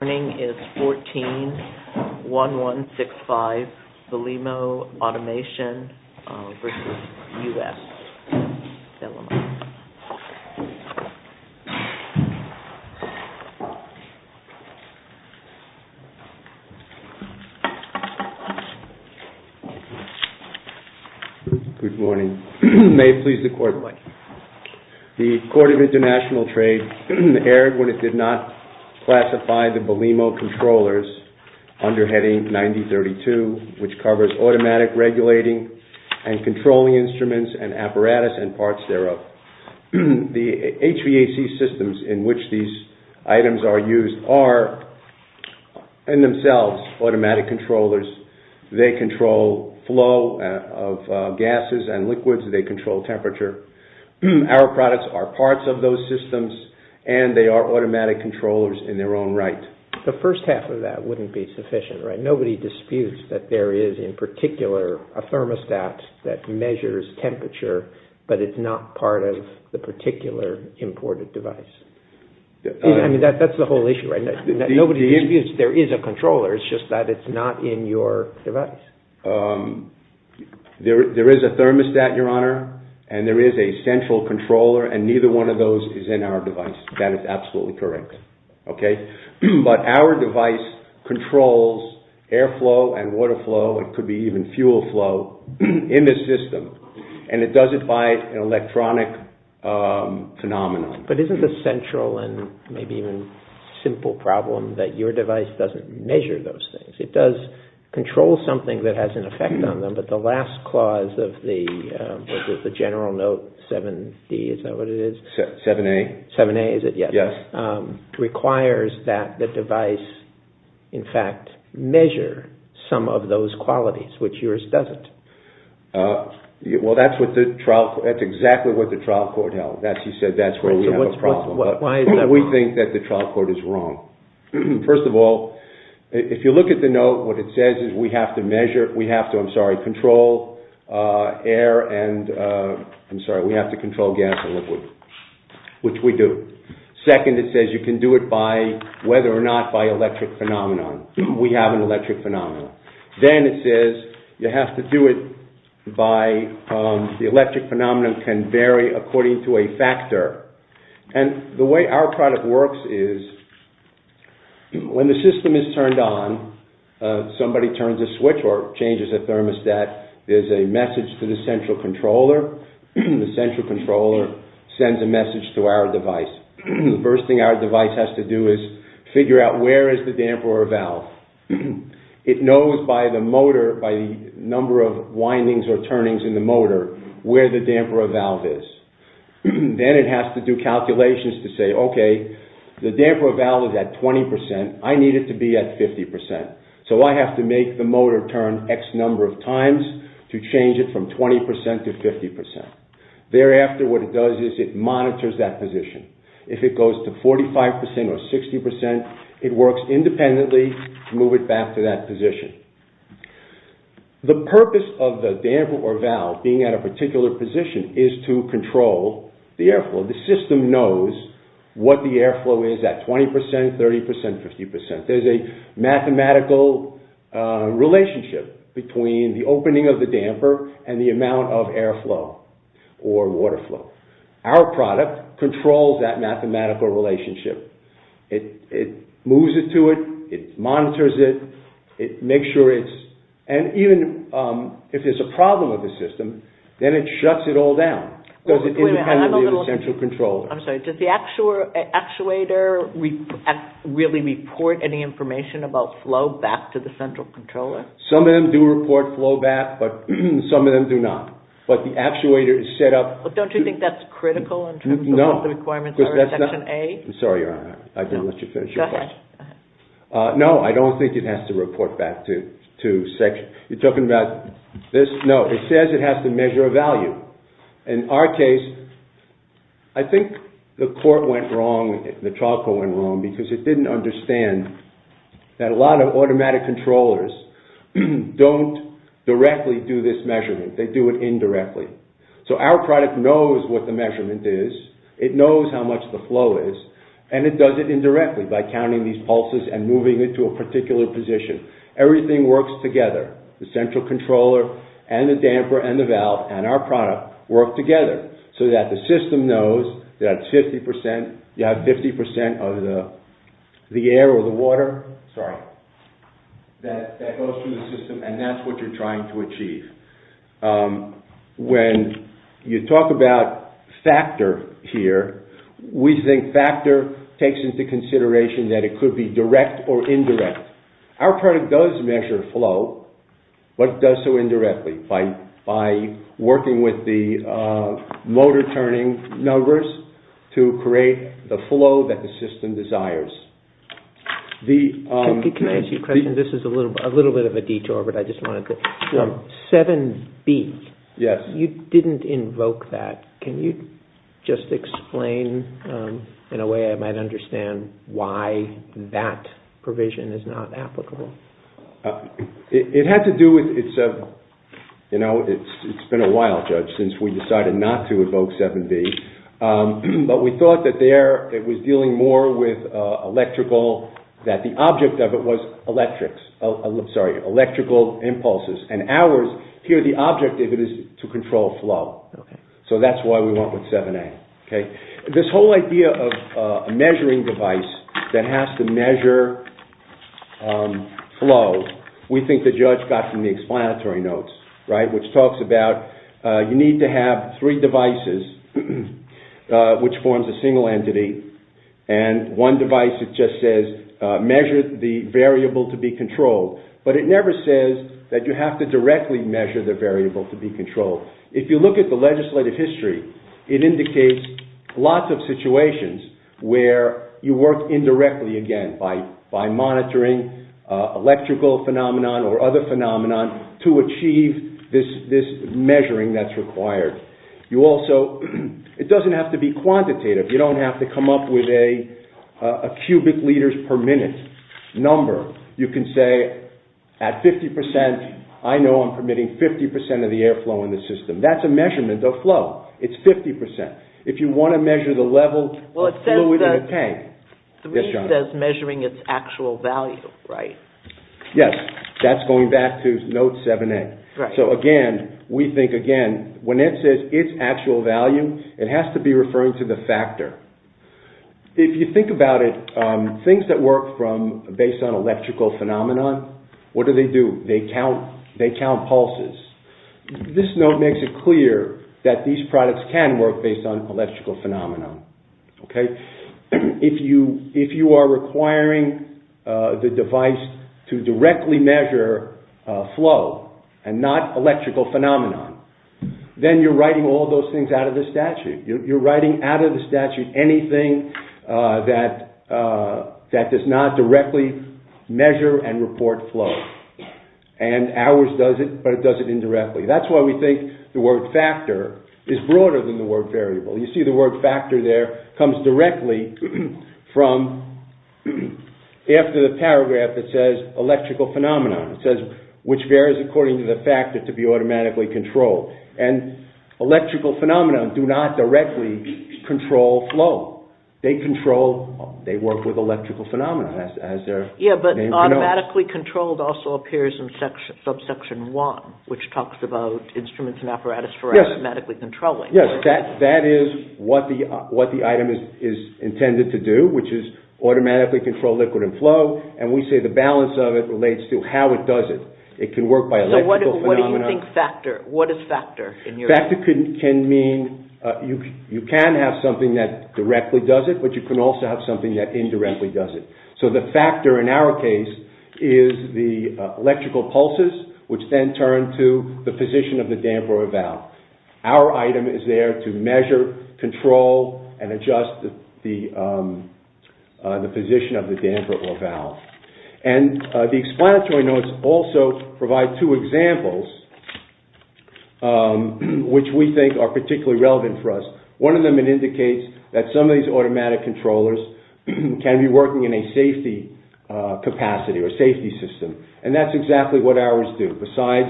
Good morning. May it please the Court, the Court of International Trade erred when it did not classify the Belimo controllers under heading 9032, which covers automatic regulating and controlling instruments and apparatus and parts thereof. The HVAC systems in which these items are used are in themselves automatic controllers. They control flow of gases and their own right. The first half of that wouldn't be sufficient, right? Nobody disputes that there is in particular a thermostat that measures temperature, but it's not part of the particular imported device. I mean, that's the whole issue, right? Nobody disputes there is a controller. It's just that it's not in your device. There is a thermostat, Your Honor, and there is a central controller and neither one of those is in our device. That is absolutely correct. But our device controls air flow and water flow, it could be even fuel flow, in the system, and it does it by an electronic phenomenon. But isn't the central and maybe even simple problem that your device doesn't measure those things? It does control something that has an effect on them, but the last clause of the General Note 7A requires that the device in fact measure some of those qualities, which yours doesn't. Well, that's exactly what the trial court held. He said that's where we have a problem. We think that the trial court is wrong. First of all, if you look at the note, what it says is we have to control gas and liquid, which we do. Second, it says you can do it by, whether or not, by electric phenomenon. We have an electric phenomenon. Then it says you have to do it by, the electric phenomenon can vary according to a factor. And the way our product works is, when the system is turned on, somebody turns a switch or changes a thermostat, there's a message to the central controller. The central controller sends a message to our device. The first thing our device has to do is figure out where is the damper or valve. It knows by the motor, by the number of windings or turnings in the motor, where the damper or valve is at 20%, I need it to be at 50%. So I have to make the motor turn X number of times to change it from 20% to 50%. Thereafter, what it does is it monitors that position. If it goes to 45% or 60%, it works independently to move it back to that position. The purpose of the damper or valve being at a particular position is to control the airflow. The system knows what the airflow is at 20%, 30%, 50%. There's a mathematical relationship between the opening of the damper and the amount of airflow or water flow. Our product controls that mathematical relationship. It moves it to it, it monitors it, it makes sure it's, and even if there's a problem with the system, then it shuts it all down. Does it independently of the central controller? I'm sorry, does the actuator really report any information about flow back to the central controller? Some of them do report flow back, but some of them do not. But the actuator is set up... But don't you think that's critical in terms of what the requirements are in Section A? I'm sorry, Your Honor, I didn't let you finish your question. Go ahead. No, I don't think it has to report back to Section... You're talking about this? No, it says it has to measure a value. In our case, I think the court went wrong, the trial court went wrong, because it didn't understand that a lot of automatic controllers don't directly do this measurement, they do it indirectly. So our product knows what the measurement is, it knows how much the flow is, and it does it indirectly by counting these pulses and moving it to a particular position. Everything works together, the central controller and the damper and the valve and our product work together so that the system knows that it's 50%... You have 50% of the air or the water, sorry, that goes through the system and that's what you're trying to achieve. When you talk about factor here, we think factor takes into consideration that it could be direct or indirect. Our product does measure flow, but it does so indirectly by working with the motor turning numbers to create the flow that the system desires. Can I ask you a question? This is a little bit of a detour, but I just wanted to... 7B, you didn't invoke that. Can you just explain in a way I might understand why that provision is not applicable? It had to do with... It's been a while, Judge, since we decided not to invoke 7B, but we thought that there it was dealing more with electrical, that the object of it was electrical impulses, and ours, here the object of it is to control flow. So that's why we went with 7A. This whole idea of a measuring device that has to measure flow, we think the Judge got from the explanatory notes, which talks about you need to have three devices, which forms a single entity, and one device that just says measure the variable to be controlled, but it never says that you have to directly measure the variable to be controlled. If you look at the legislative history, it indicates lots of situations where you work indirectly again by monitoring electrical phenomenon or other phenomenon to achieve this measuring that's required. You also... It doesn't have to be quantitative. You don't have to come up with a cubic liters per minute number. You can say at 50%, I know I'm permitting 50% of the air flow in the system. That's a measurement of flow. It's 50%. If you want to measure the level of flow within a tank... Well, it says that 3 says measuring its actual value, right? Yes. That's going back to note 7A. Right. So again, we think again, when it says its actual value, it has to be referring to the factor. If you think about it, things that work based on electrical phenomenon, what do they do? They count pulses. This note makes it clear that these products can work based on electrical phenomenon. Okay? If you are requiring the device to directly measure flow and not electrical phenomenon, then you're writing all those things out of the statute. You're writing out of the statute anything that does not directly measure and report flow. And ours does it, but it does it indirectly. That's why we think the word factor is broader than the word variable. You see the word factor there comes directly from... After the paragraph, it says electrical phenomenon. It says, which varies according to the factor to be automatically controlled. And electrical phenomenon do not directly control flow. They control... They work with electrical phenomenon, as their name denotes. Yeah, but automatically controlled also appears in subsection 1, which talks about instruments and apparatus for automatically controlling. Yes. That is what the item is intended to do, which is automatically control liquid and flow. And we say the balance of it relates to how it does it. It can work by electrical phenomenon... So what do you think factor... Factor can mean... You can have something that directly does it, but you can also have something that indirectly does it. So the factor in our case is the electrical pulses, which then turn to the position of the damper or valve. Our item is there to measure, control, and adjust the position of the damper or valve. And the explanatory notes also provide two examples, which we think are particularly relevant for us. One of them, it indicates that some of these automatic controllers can be working in a safety capacity or safety system. And that's exactly what ours do. Besides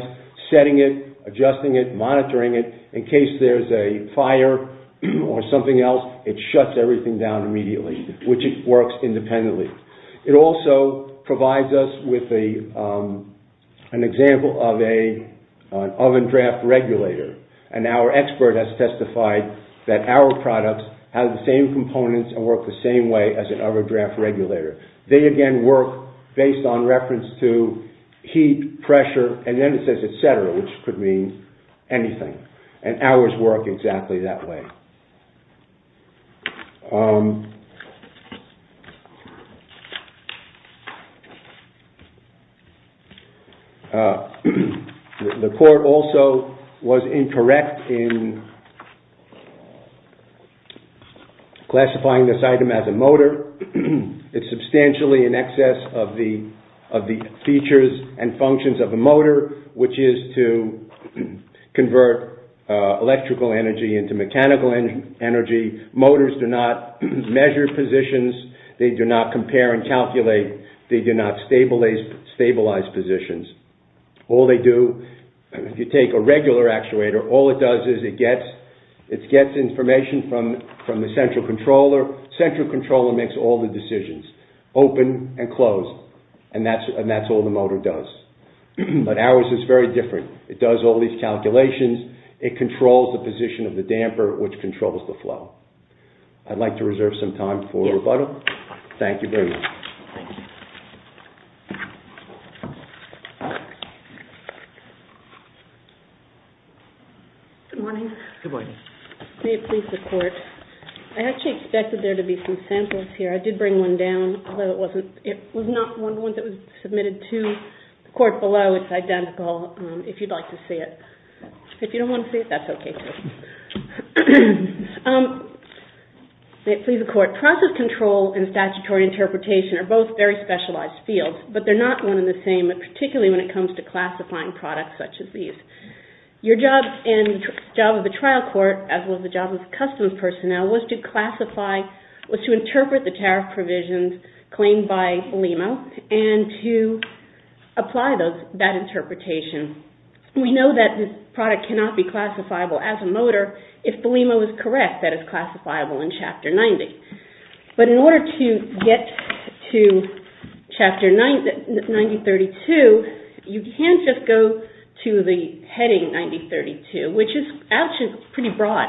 setting it, adjusting it, monitoring it, in case there's a fire or something else, it shuts everything down immediately, which it works independently. It also provides us with an example of an oven draft regulator. And our expert has testified that our products have the same components and work the same way as an oven draft regulator. They again work based on reference to heat, pressure, and then it says et cetera, which could mean anything. And ours work exactly that way. The court also was incorrect in classifying this item as a motor. It's substantially in excess of the features and functions of a motor, which is to convert electrical energy into mechanical energy. Motors do not measure positions. They do not compare and calculate. They do not stabilize positions. All they do, if you take a regular actuator, all it does is it gets information from the central controller. Central controller makes all the decisions, open and close, and that's all the motor does. But ours is very different. It does all these calculations. It controls the position of the damper, which controls the flow. I'd like to reserve some time for rebuttal. Thank you very much. Good morning. Good morning. May it please the court. I actually expected there to be some samples here. I did bring one down, although it was not the one that was submitted to the court below. It's identical, if you'd like to see it. If you don't want to see it, that's okay too. May it please the court. Process control and statutory interpretation are both very specialized fields, but they're not one and the same, particularly when it comes to classifying products such as these. Your job in the job of the trial court, as well as the job of customs personnel, was to classify, was to interpret the tariff provisions claimed by LEMO and to apply that interpretation. We know that this product cannot be classifiable as a motor if the LEMO is correct that it's classifiable in Chapter 90. But in order to get to Chapter 9032, you can't just go to the heading 9032, which is actually pretty broad.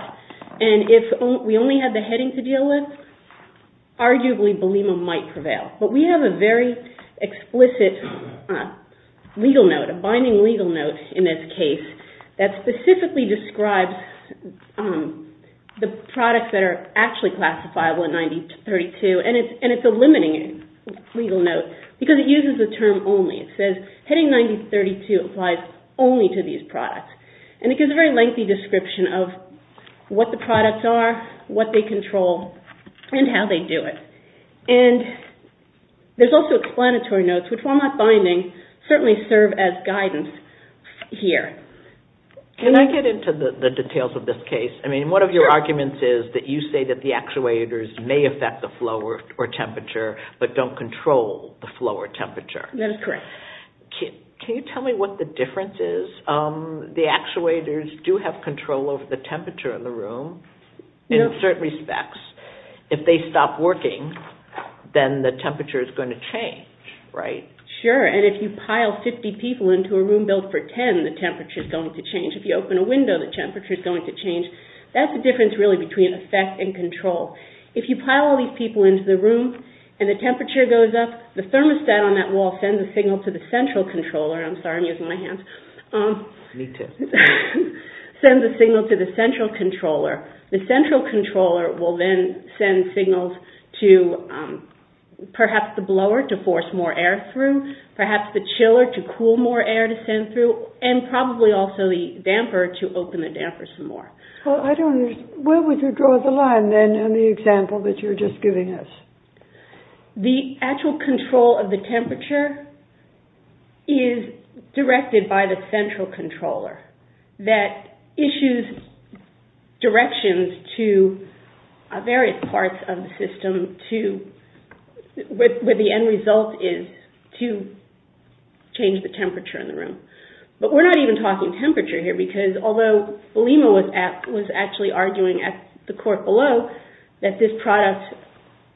And if we only had the heading to deal with, arguably the LEMO might prevail. But we have a very explicit legal note, a binding legal note in this case, that specifically describes the products that are actually classifiable in 9032. And it's a limiting legal note because it uses the term only. It says heading 9032 applies only to these products. And it gives a very lengthy description of what the products are, what they control, and how they do it. And there's also explanatory notes, which while not binding, certainly serve as guidance here. Can I get into the details of this case? I mean, one of your arguments is that you say that the actuators may affect the flow or temperature but don't control the flow or temperature. That is correct. Can you tell me what the difference is? The actuators do have control over the temperature in the room in certain respects. If they stop working, then the temperature is going to change, right? Sure, and if you pile 50 people into a room built for 10, the temperature is going to change. If you open a window, the temperature is going to change. That's the difference really between effect and control. If you pile all these people into the room and the temperature goes up, the thermostat on that wall sends a signal to the central controller. The central controller will then send signals to perhaps the blower to force more air through, perhaps the chiller to cool more air to send through, and probably also the damper to open the damper some more. Where would you draw the line in the example that you're just giving us? The actual control of the temperature is directed by the central controller that issues directions to various parts of the system where the end result is to change the temperature in the room. But we're not even talking temperature here because although Lima was actually arguing at the court below that this product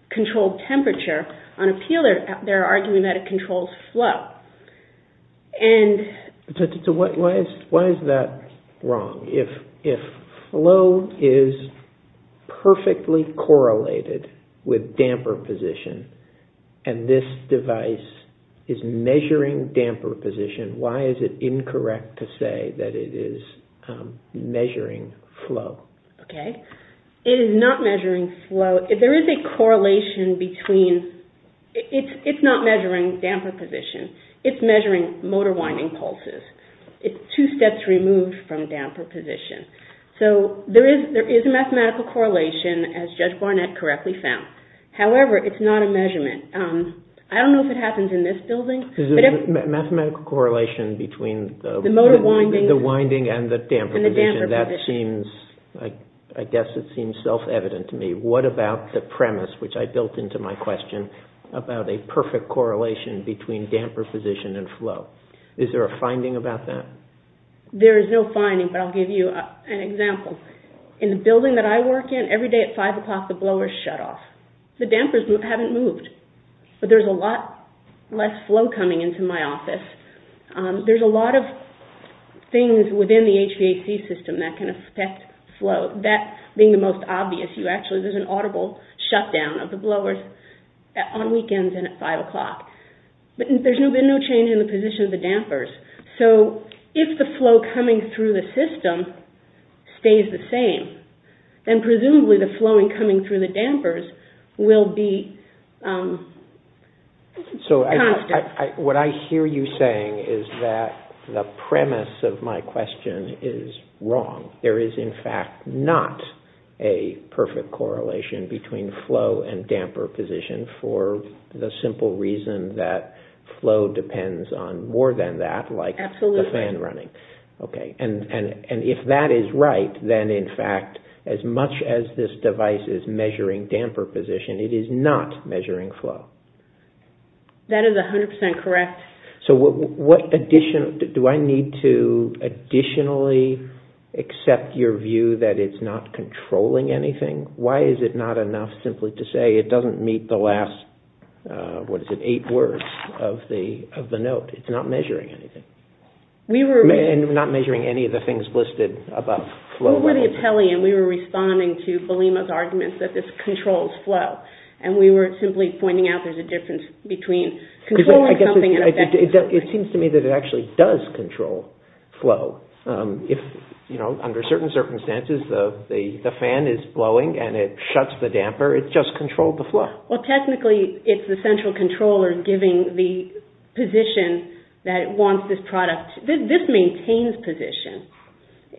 controlled temperature, on appeal they're arguing that it controls flow. Why is that wrong? If flow is perfectly correlated with damper position and this device is measuring damper position, why is it incorrect to say that it is measuring flow? It is not measuring flow. There is a correlation between... It's not measuring damper position. It's measuring motor winding pulses. It's two steps removed from damper position. There is a mathematical correlation as Judge Barnett correctly found. However, it's not a measurement. I don't know if it happens in this building. There's a mathematical correlation between the motor winding and the damper position. I guess it seems self-evident to me. What about the premise, which I built into my question, about a perfect correlation between damper position and flow? Is there a finding about that? There is no finding but I'll give you an example. In the building that I work in, every day at 5 o'clock the blower is shut off. The dampers haven't moved. There's a lot less flow coming into my office. There's a lot of things within the HVAC system that can affect flow. That being the most obvious. There's an audible shutdown of the blowers on weekends and at 5 o'clock. There's been no change in the position of the dampers. If the flow coming through the system stays the same, then presumably the flow coming through the dampers will be constant. What I hear you saying is that the premise of my question is wrong. There is in fact not a perfect correlation between flow and damper position for the simple reason that flow depends on more than that, like the fan running. If that is right, then in fact as much as this device is measuring damper position, it is not measuring flow. That is 100% correct. Do I need to additionally accept your view that it's not controlling anything? Why is it not enough simply to say it doesn't meet the last 8 words of the note? It's not measuring anything. Not measuring any of the things listed above. We were responding to Belima's argument that this controls flow. We were simply pointing out there's a difference between controlling something and affecting something. It seems to me that it actually does control flow. Under certain circumstances, the fan is blowing and it shuts the damper. It just controlled the flow. Technically, it's the central controller giving the position that it wants this product This maintains position.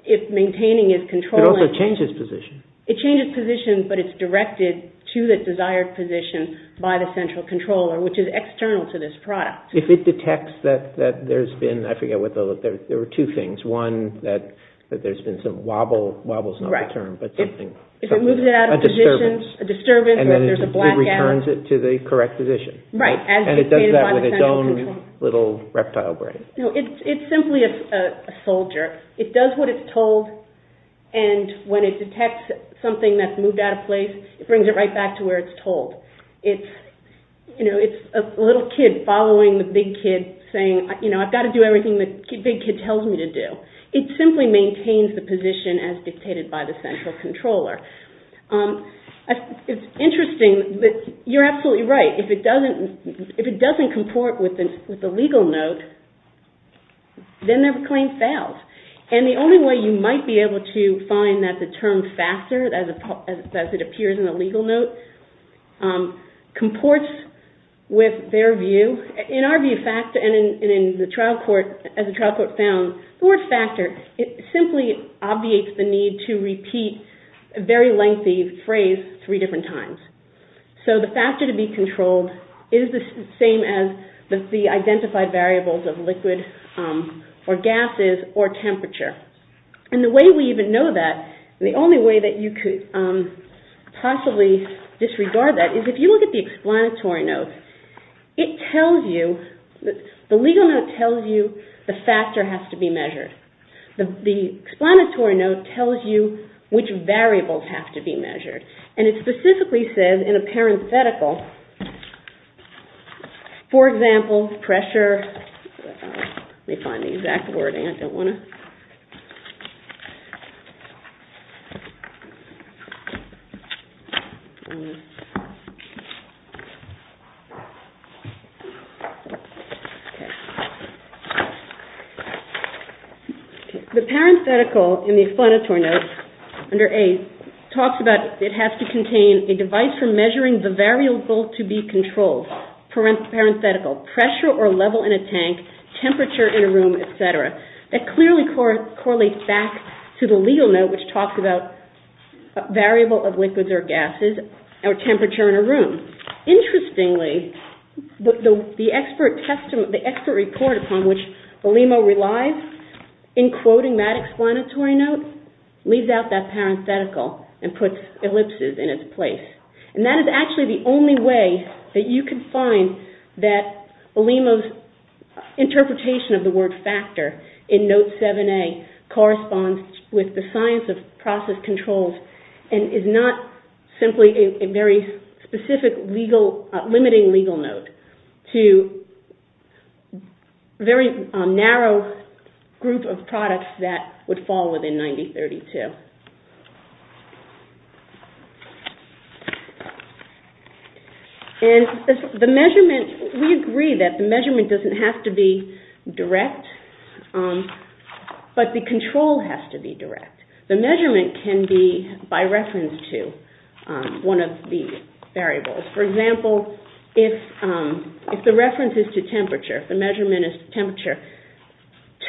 If maintaining is controlling It also changes position. It changes position, but it's directed to the desired position by the central controller, which is external to this product. If it detects that there's been, I forget, there were two things. One, that there's been some wobble. Wobble is not the term. If it moves it out of position, a disturbance, there's a blackout. It returns it to the correct position. It does that with its own little reptile brain. It's simply a soldier. It does what it's told and when it detects something that's moved out of place, it brings it right back to where it's told. It's a little kid following the big kid saying I've got to do everything the big kid tells me to do. It simply maintains the position as dictated by the central controller. It's interesting that you're absolutely right. If it doesn't comport with the legal note, then their claim fails. The only way you might be able to find that the term factor, as it appears in the legal note, comports with their view. In our view, as the trial court found, the word factor simply obviates the need to repeat a very lengthy phrase three different times. The factor to be controlled is the same as the identified variables of liquid or gases or temperature. The way we even know that, the only way that you could possibly disregard that, is if you look at the explanatory note, it tells you the legal note tells you the factor has to be measured. The explanatory note tells you which variables have to be measured. And it specifically says in a parenthetical for example pressure let me find the exact word I don't want to The parenthetical in the explanatory note under A talks about it has to contain a device for measuring the variable to be controlled. Pressure or level in a tank, temperature in a room, etc. That clearly correlates back to the legal note which talks about variable of liquids or gases or temperature in a room. Interestingly, the expert report upon which Belimo relies in quoting that explanatory note leaves out that parenthetical and puts ellipses in its place. And that is actually the only way that you can find that Belimo's interpretation of the word factor in note 7A corresponds with the science of process controls and is not simply a very specific limiting legal note to a very narrow group of products that would fall within 90-32. And the measurement we agree that the measurement doesn't have to be direct but the control has to be direct. The measurement can be by reference to one of the variables. For example, if the reference is to temperature, if the measurement is to temperature,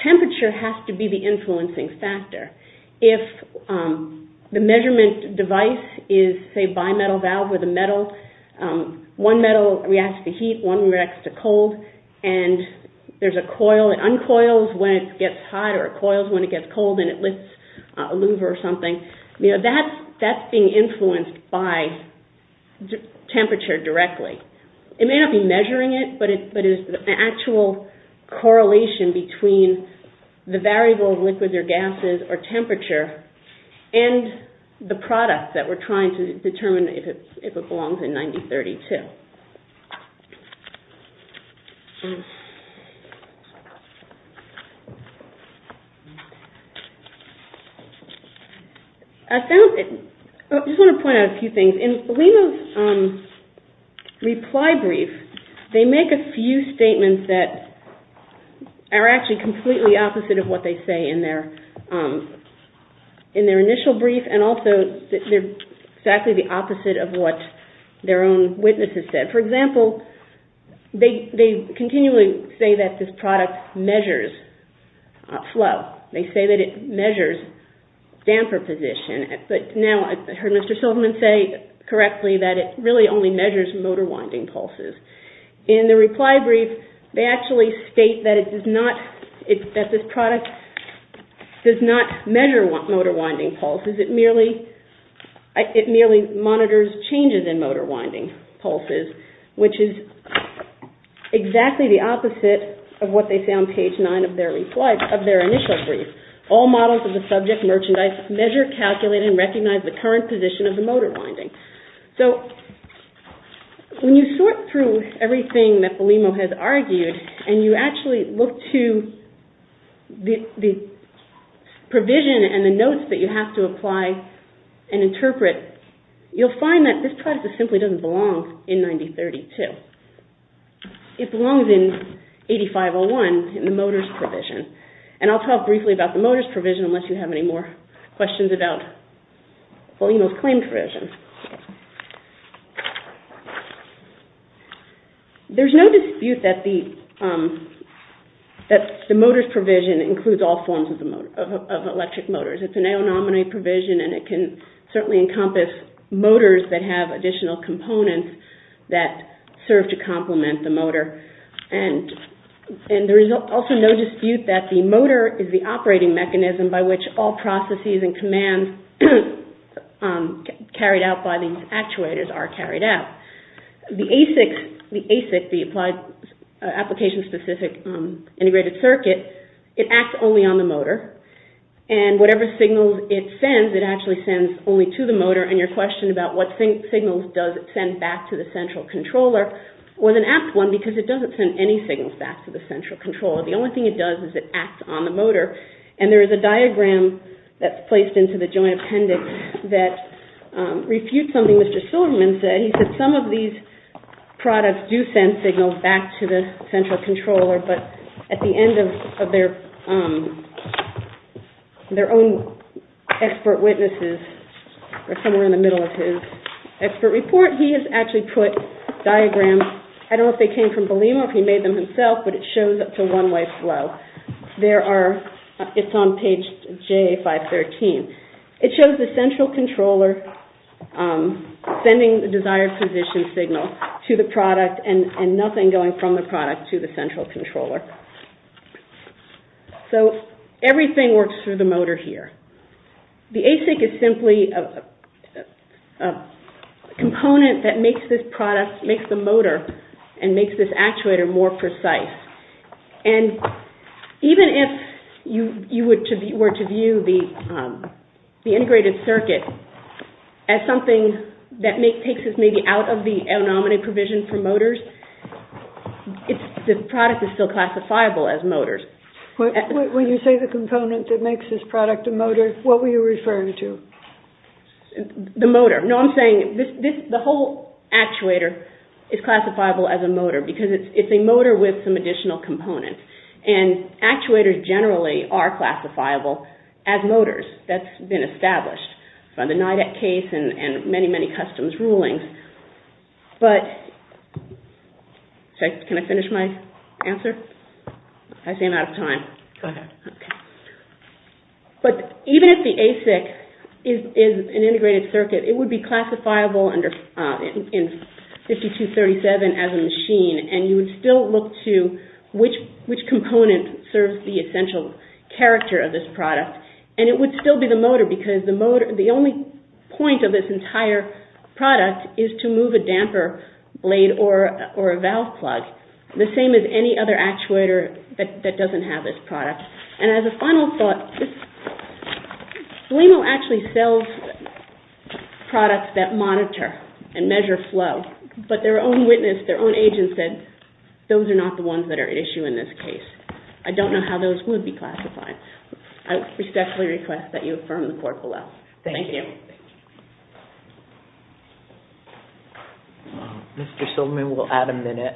temperature has to be the influencing factor. If the measurement device is a bimetal valve with a metal one metal reacts to heat, one reacts to cold and there's a coil that uncoils when it gets hot or it coils when it gets cold and it lifts a louver or something. That's being influenced by temperature directly. It may not be measuring it but it's an actual correlation between the variable of liquids or gases or temperature and the product that we're trying to determine if it belongs in 90-32. I found I just want to point out a few things. In Lima's reply brief they make a few statements that are actually completely opposite of what they say in their in their initial brief their own witnesses say. So, in Lima's reply brief they make a few statements For example they continually say that this product measures flow. They say that it measures damper position but now I heard Mr. Silverman say correctly that it really only measures motor winding pulses. In the reply brief they actually state that it does not that this product does not measure motor winding pulses it merely monitors changes in motor winding pulses which is exactly the opposite of what they say on page 9 of their initial brief. All models of the subject merchandise measure calculate and recognize the current position of the motor winding. When you sort through everything that Belimo has argued and you actually look to the provision and the notes that you have to apply and interpret you'll find that this product simply doesn't belong in 9032. It belongs in 8501 in the motors provision. And I'll talk briefly about the motors provision unless you have any more questions about Belimo's claimed provision. There's no dispute that the that the motors provision includes all forms of electric motors. It's an aonominy provision and it can certainly encompass motors that have additional components that serve to complement the motor. And there is also no dispute that the motor is the operating mechanism by which all processes and commands carried out by the actuators are carried out. The ASIC application specific integrated circuit it acts only on the motor and whatever signals it sends it actually sends only to the motor and your question about what signals does it send back to the central controller was an apt one because it doesn't send any signals back to the central controller. The only thing it does is it acts on the motor and there is a diagram that's placed into the joint appendix that refutes something Mr. Silverman said. He said some of these products do send signals back to the central controller but at the end of their own expert witnesses or somewhere in the middle of his expert report he has actually put diagrams I don't know if they came from Belimo if he made them himself but it shows up to one way flow. There are it's on page J513 it shows the central controller sending the desired position signal to the product and nothing going from the product to the central controller. So everything works through the motor here. The ASIC is simply a component that makes this product, makes the motor and makes this actuator more precise and even if you were to view the integrated circuit as something that takes us maybe out of the the product is still classifiable as motors. When you say the component that makes this product a motor what were you referring to? The motor no I'm saying the whole actuator is classifiable as a motor because it's a motor with some additional components and actuators generally are classifiable as motors that's been established by the NIDAC case and many many customs rulings but can I finish my answer? I ran out of time. But even if the ASIC is an integrated circuit it would be classifiable in 5237 as a machine and you would still look to which component serves the essential character of this product and it would still be the motor because the only point of this entire product is to move a damper, blade or a valve plug the same as any other actuator that doesn't have this product and as a final thought Blemo actually sells products that monitor and measure flow but their own witness, their own agent said those are not the ones that are at issue in this case. I don't know how those would be classified. I respectfully request that you affirm the court Thank you. Mr. Silverman we'll add a minute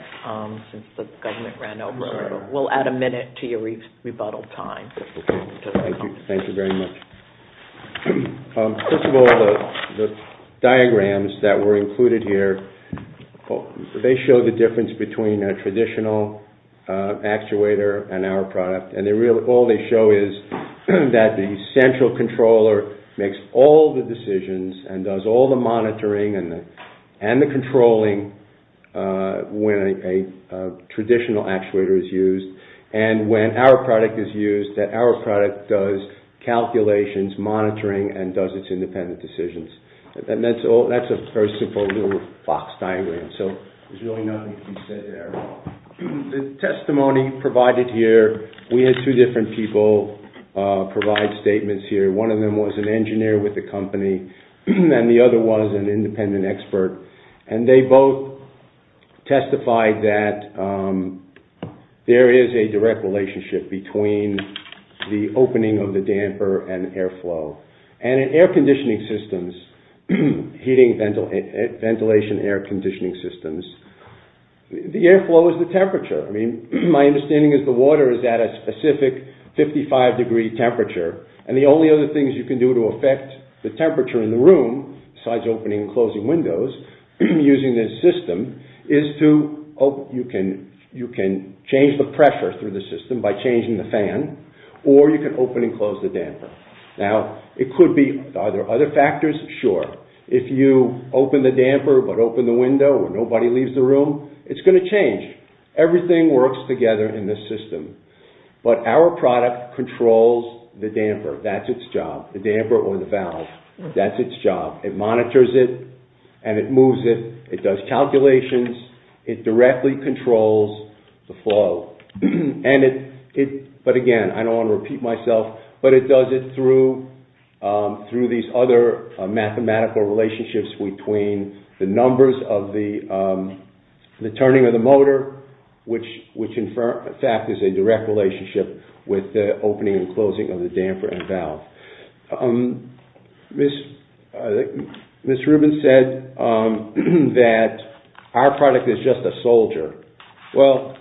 we'll add a minute to your rebuttal time. Thank you very much. First of all the diagrams that were included here they show the difference between a traditional actuator and our product and all they show is that the central controller makes all the decisions and does all the monitoring and the controlling when a traditional actuator is used and when our product is used our product does calculations, monitoring and does its independent decisions that's a very simple little box diagram so there's really nothing to say there. The testimony provided here we had two different people provide statements here one of them was an engineer with the company and the other was an independent expert and they both testified that there is a direct relationship between the opening of the damper and airflow and in air conditioning systems heating, ventilation air conditioning systems the airflow is the temperature my understanding is the water is at a specific 55 degree temperature and the only other things you can do to affect the temperature in the room besides opening and closing windows using this system is to you can change the pressure through the system by changing the fan or you can open and close the damper now it could be are there other factors? Sure if you open the damper but open the window when nobody leaves the room it's going to change everything works together in this system but our product controls the damper, that's it's job the damper or the valve that's it's job, it monitors it and it moves it, it does calculations, it directly controls the flow but again I don't want to repeat myself but it does it through these other mathematical relationships between the turning of the motor which in fact is a direct relationship with the opening and closing of the damper and valve Ms. Ms. Rubin said that our product is just a soldier, well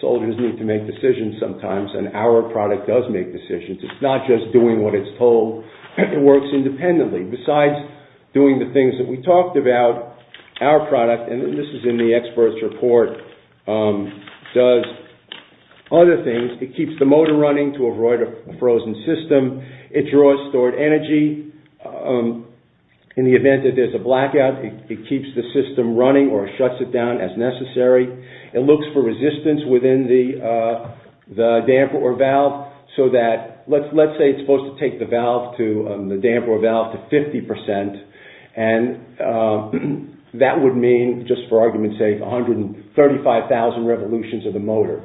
soldiers need to make decisions sometimes and our product does make decisions, it's not just doing what it's told it works independently besides doing the things that we and this is in the experts report does other things, it keeps the motor running to avoid a frozen system it draws stored energy in the event that there's a blackout it keeps the system running or shuts it down as necessary, it looks for resistance within the damper or valve so that let's say it's supposed to take the valve the damper or valve to 50% and that would mean just for argument's sake 135,000 revolutions of the motor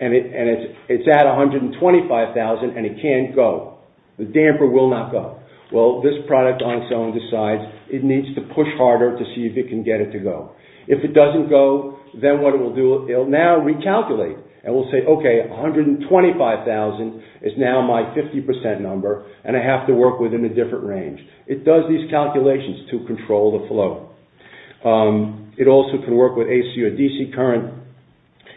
and it's at 125,000 and it can't go the damper will not go well this product on its own decides it needs to push harder to see if it can get it to go, if it doesn't go then what it will do, it will now recalculate and will say okay 125,000 is now my 50% number and I have to work within a different range it does these calculations to control the flow it also can work with AC or DC current,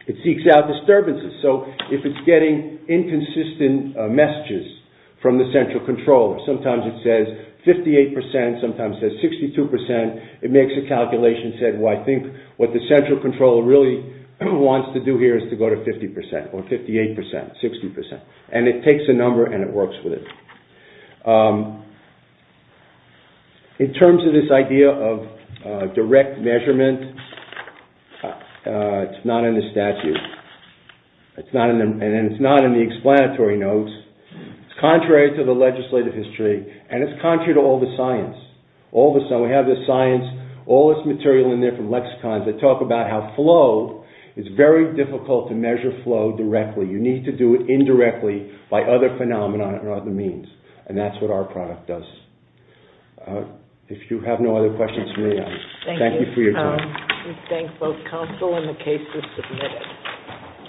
it seeks out disturbances so if it's getting inconsistent messages from the central controller sometimes it says 58% sometimes it says 62% it makes a calculation and says well I think what the central controller really wants to do here is to go to 50% or 58%, 60% and it takes a number and it works with it in terms of this idea of direct measurement it's not in the statute and it's not in the explanatory notes it's contrary to the legislative history and it's contrary to all the science we have the science all this material in there from lexicons that talk about how flow is very difficult to measure flow directly you need to do it indirectly by other phenomena and other means and that's what our product does if you have no other questions, thank you for your time we thank both counsel and the cases submitted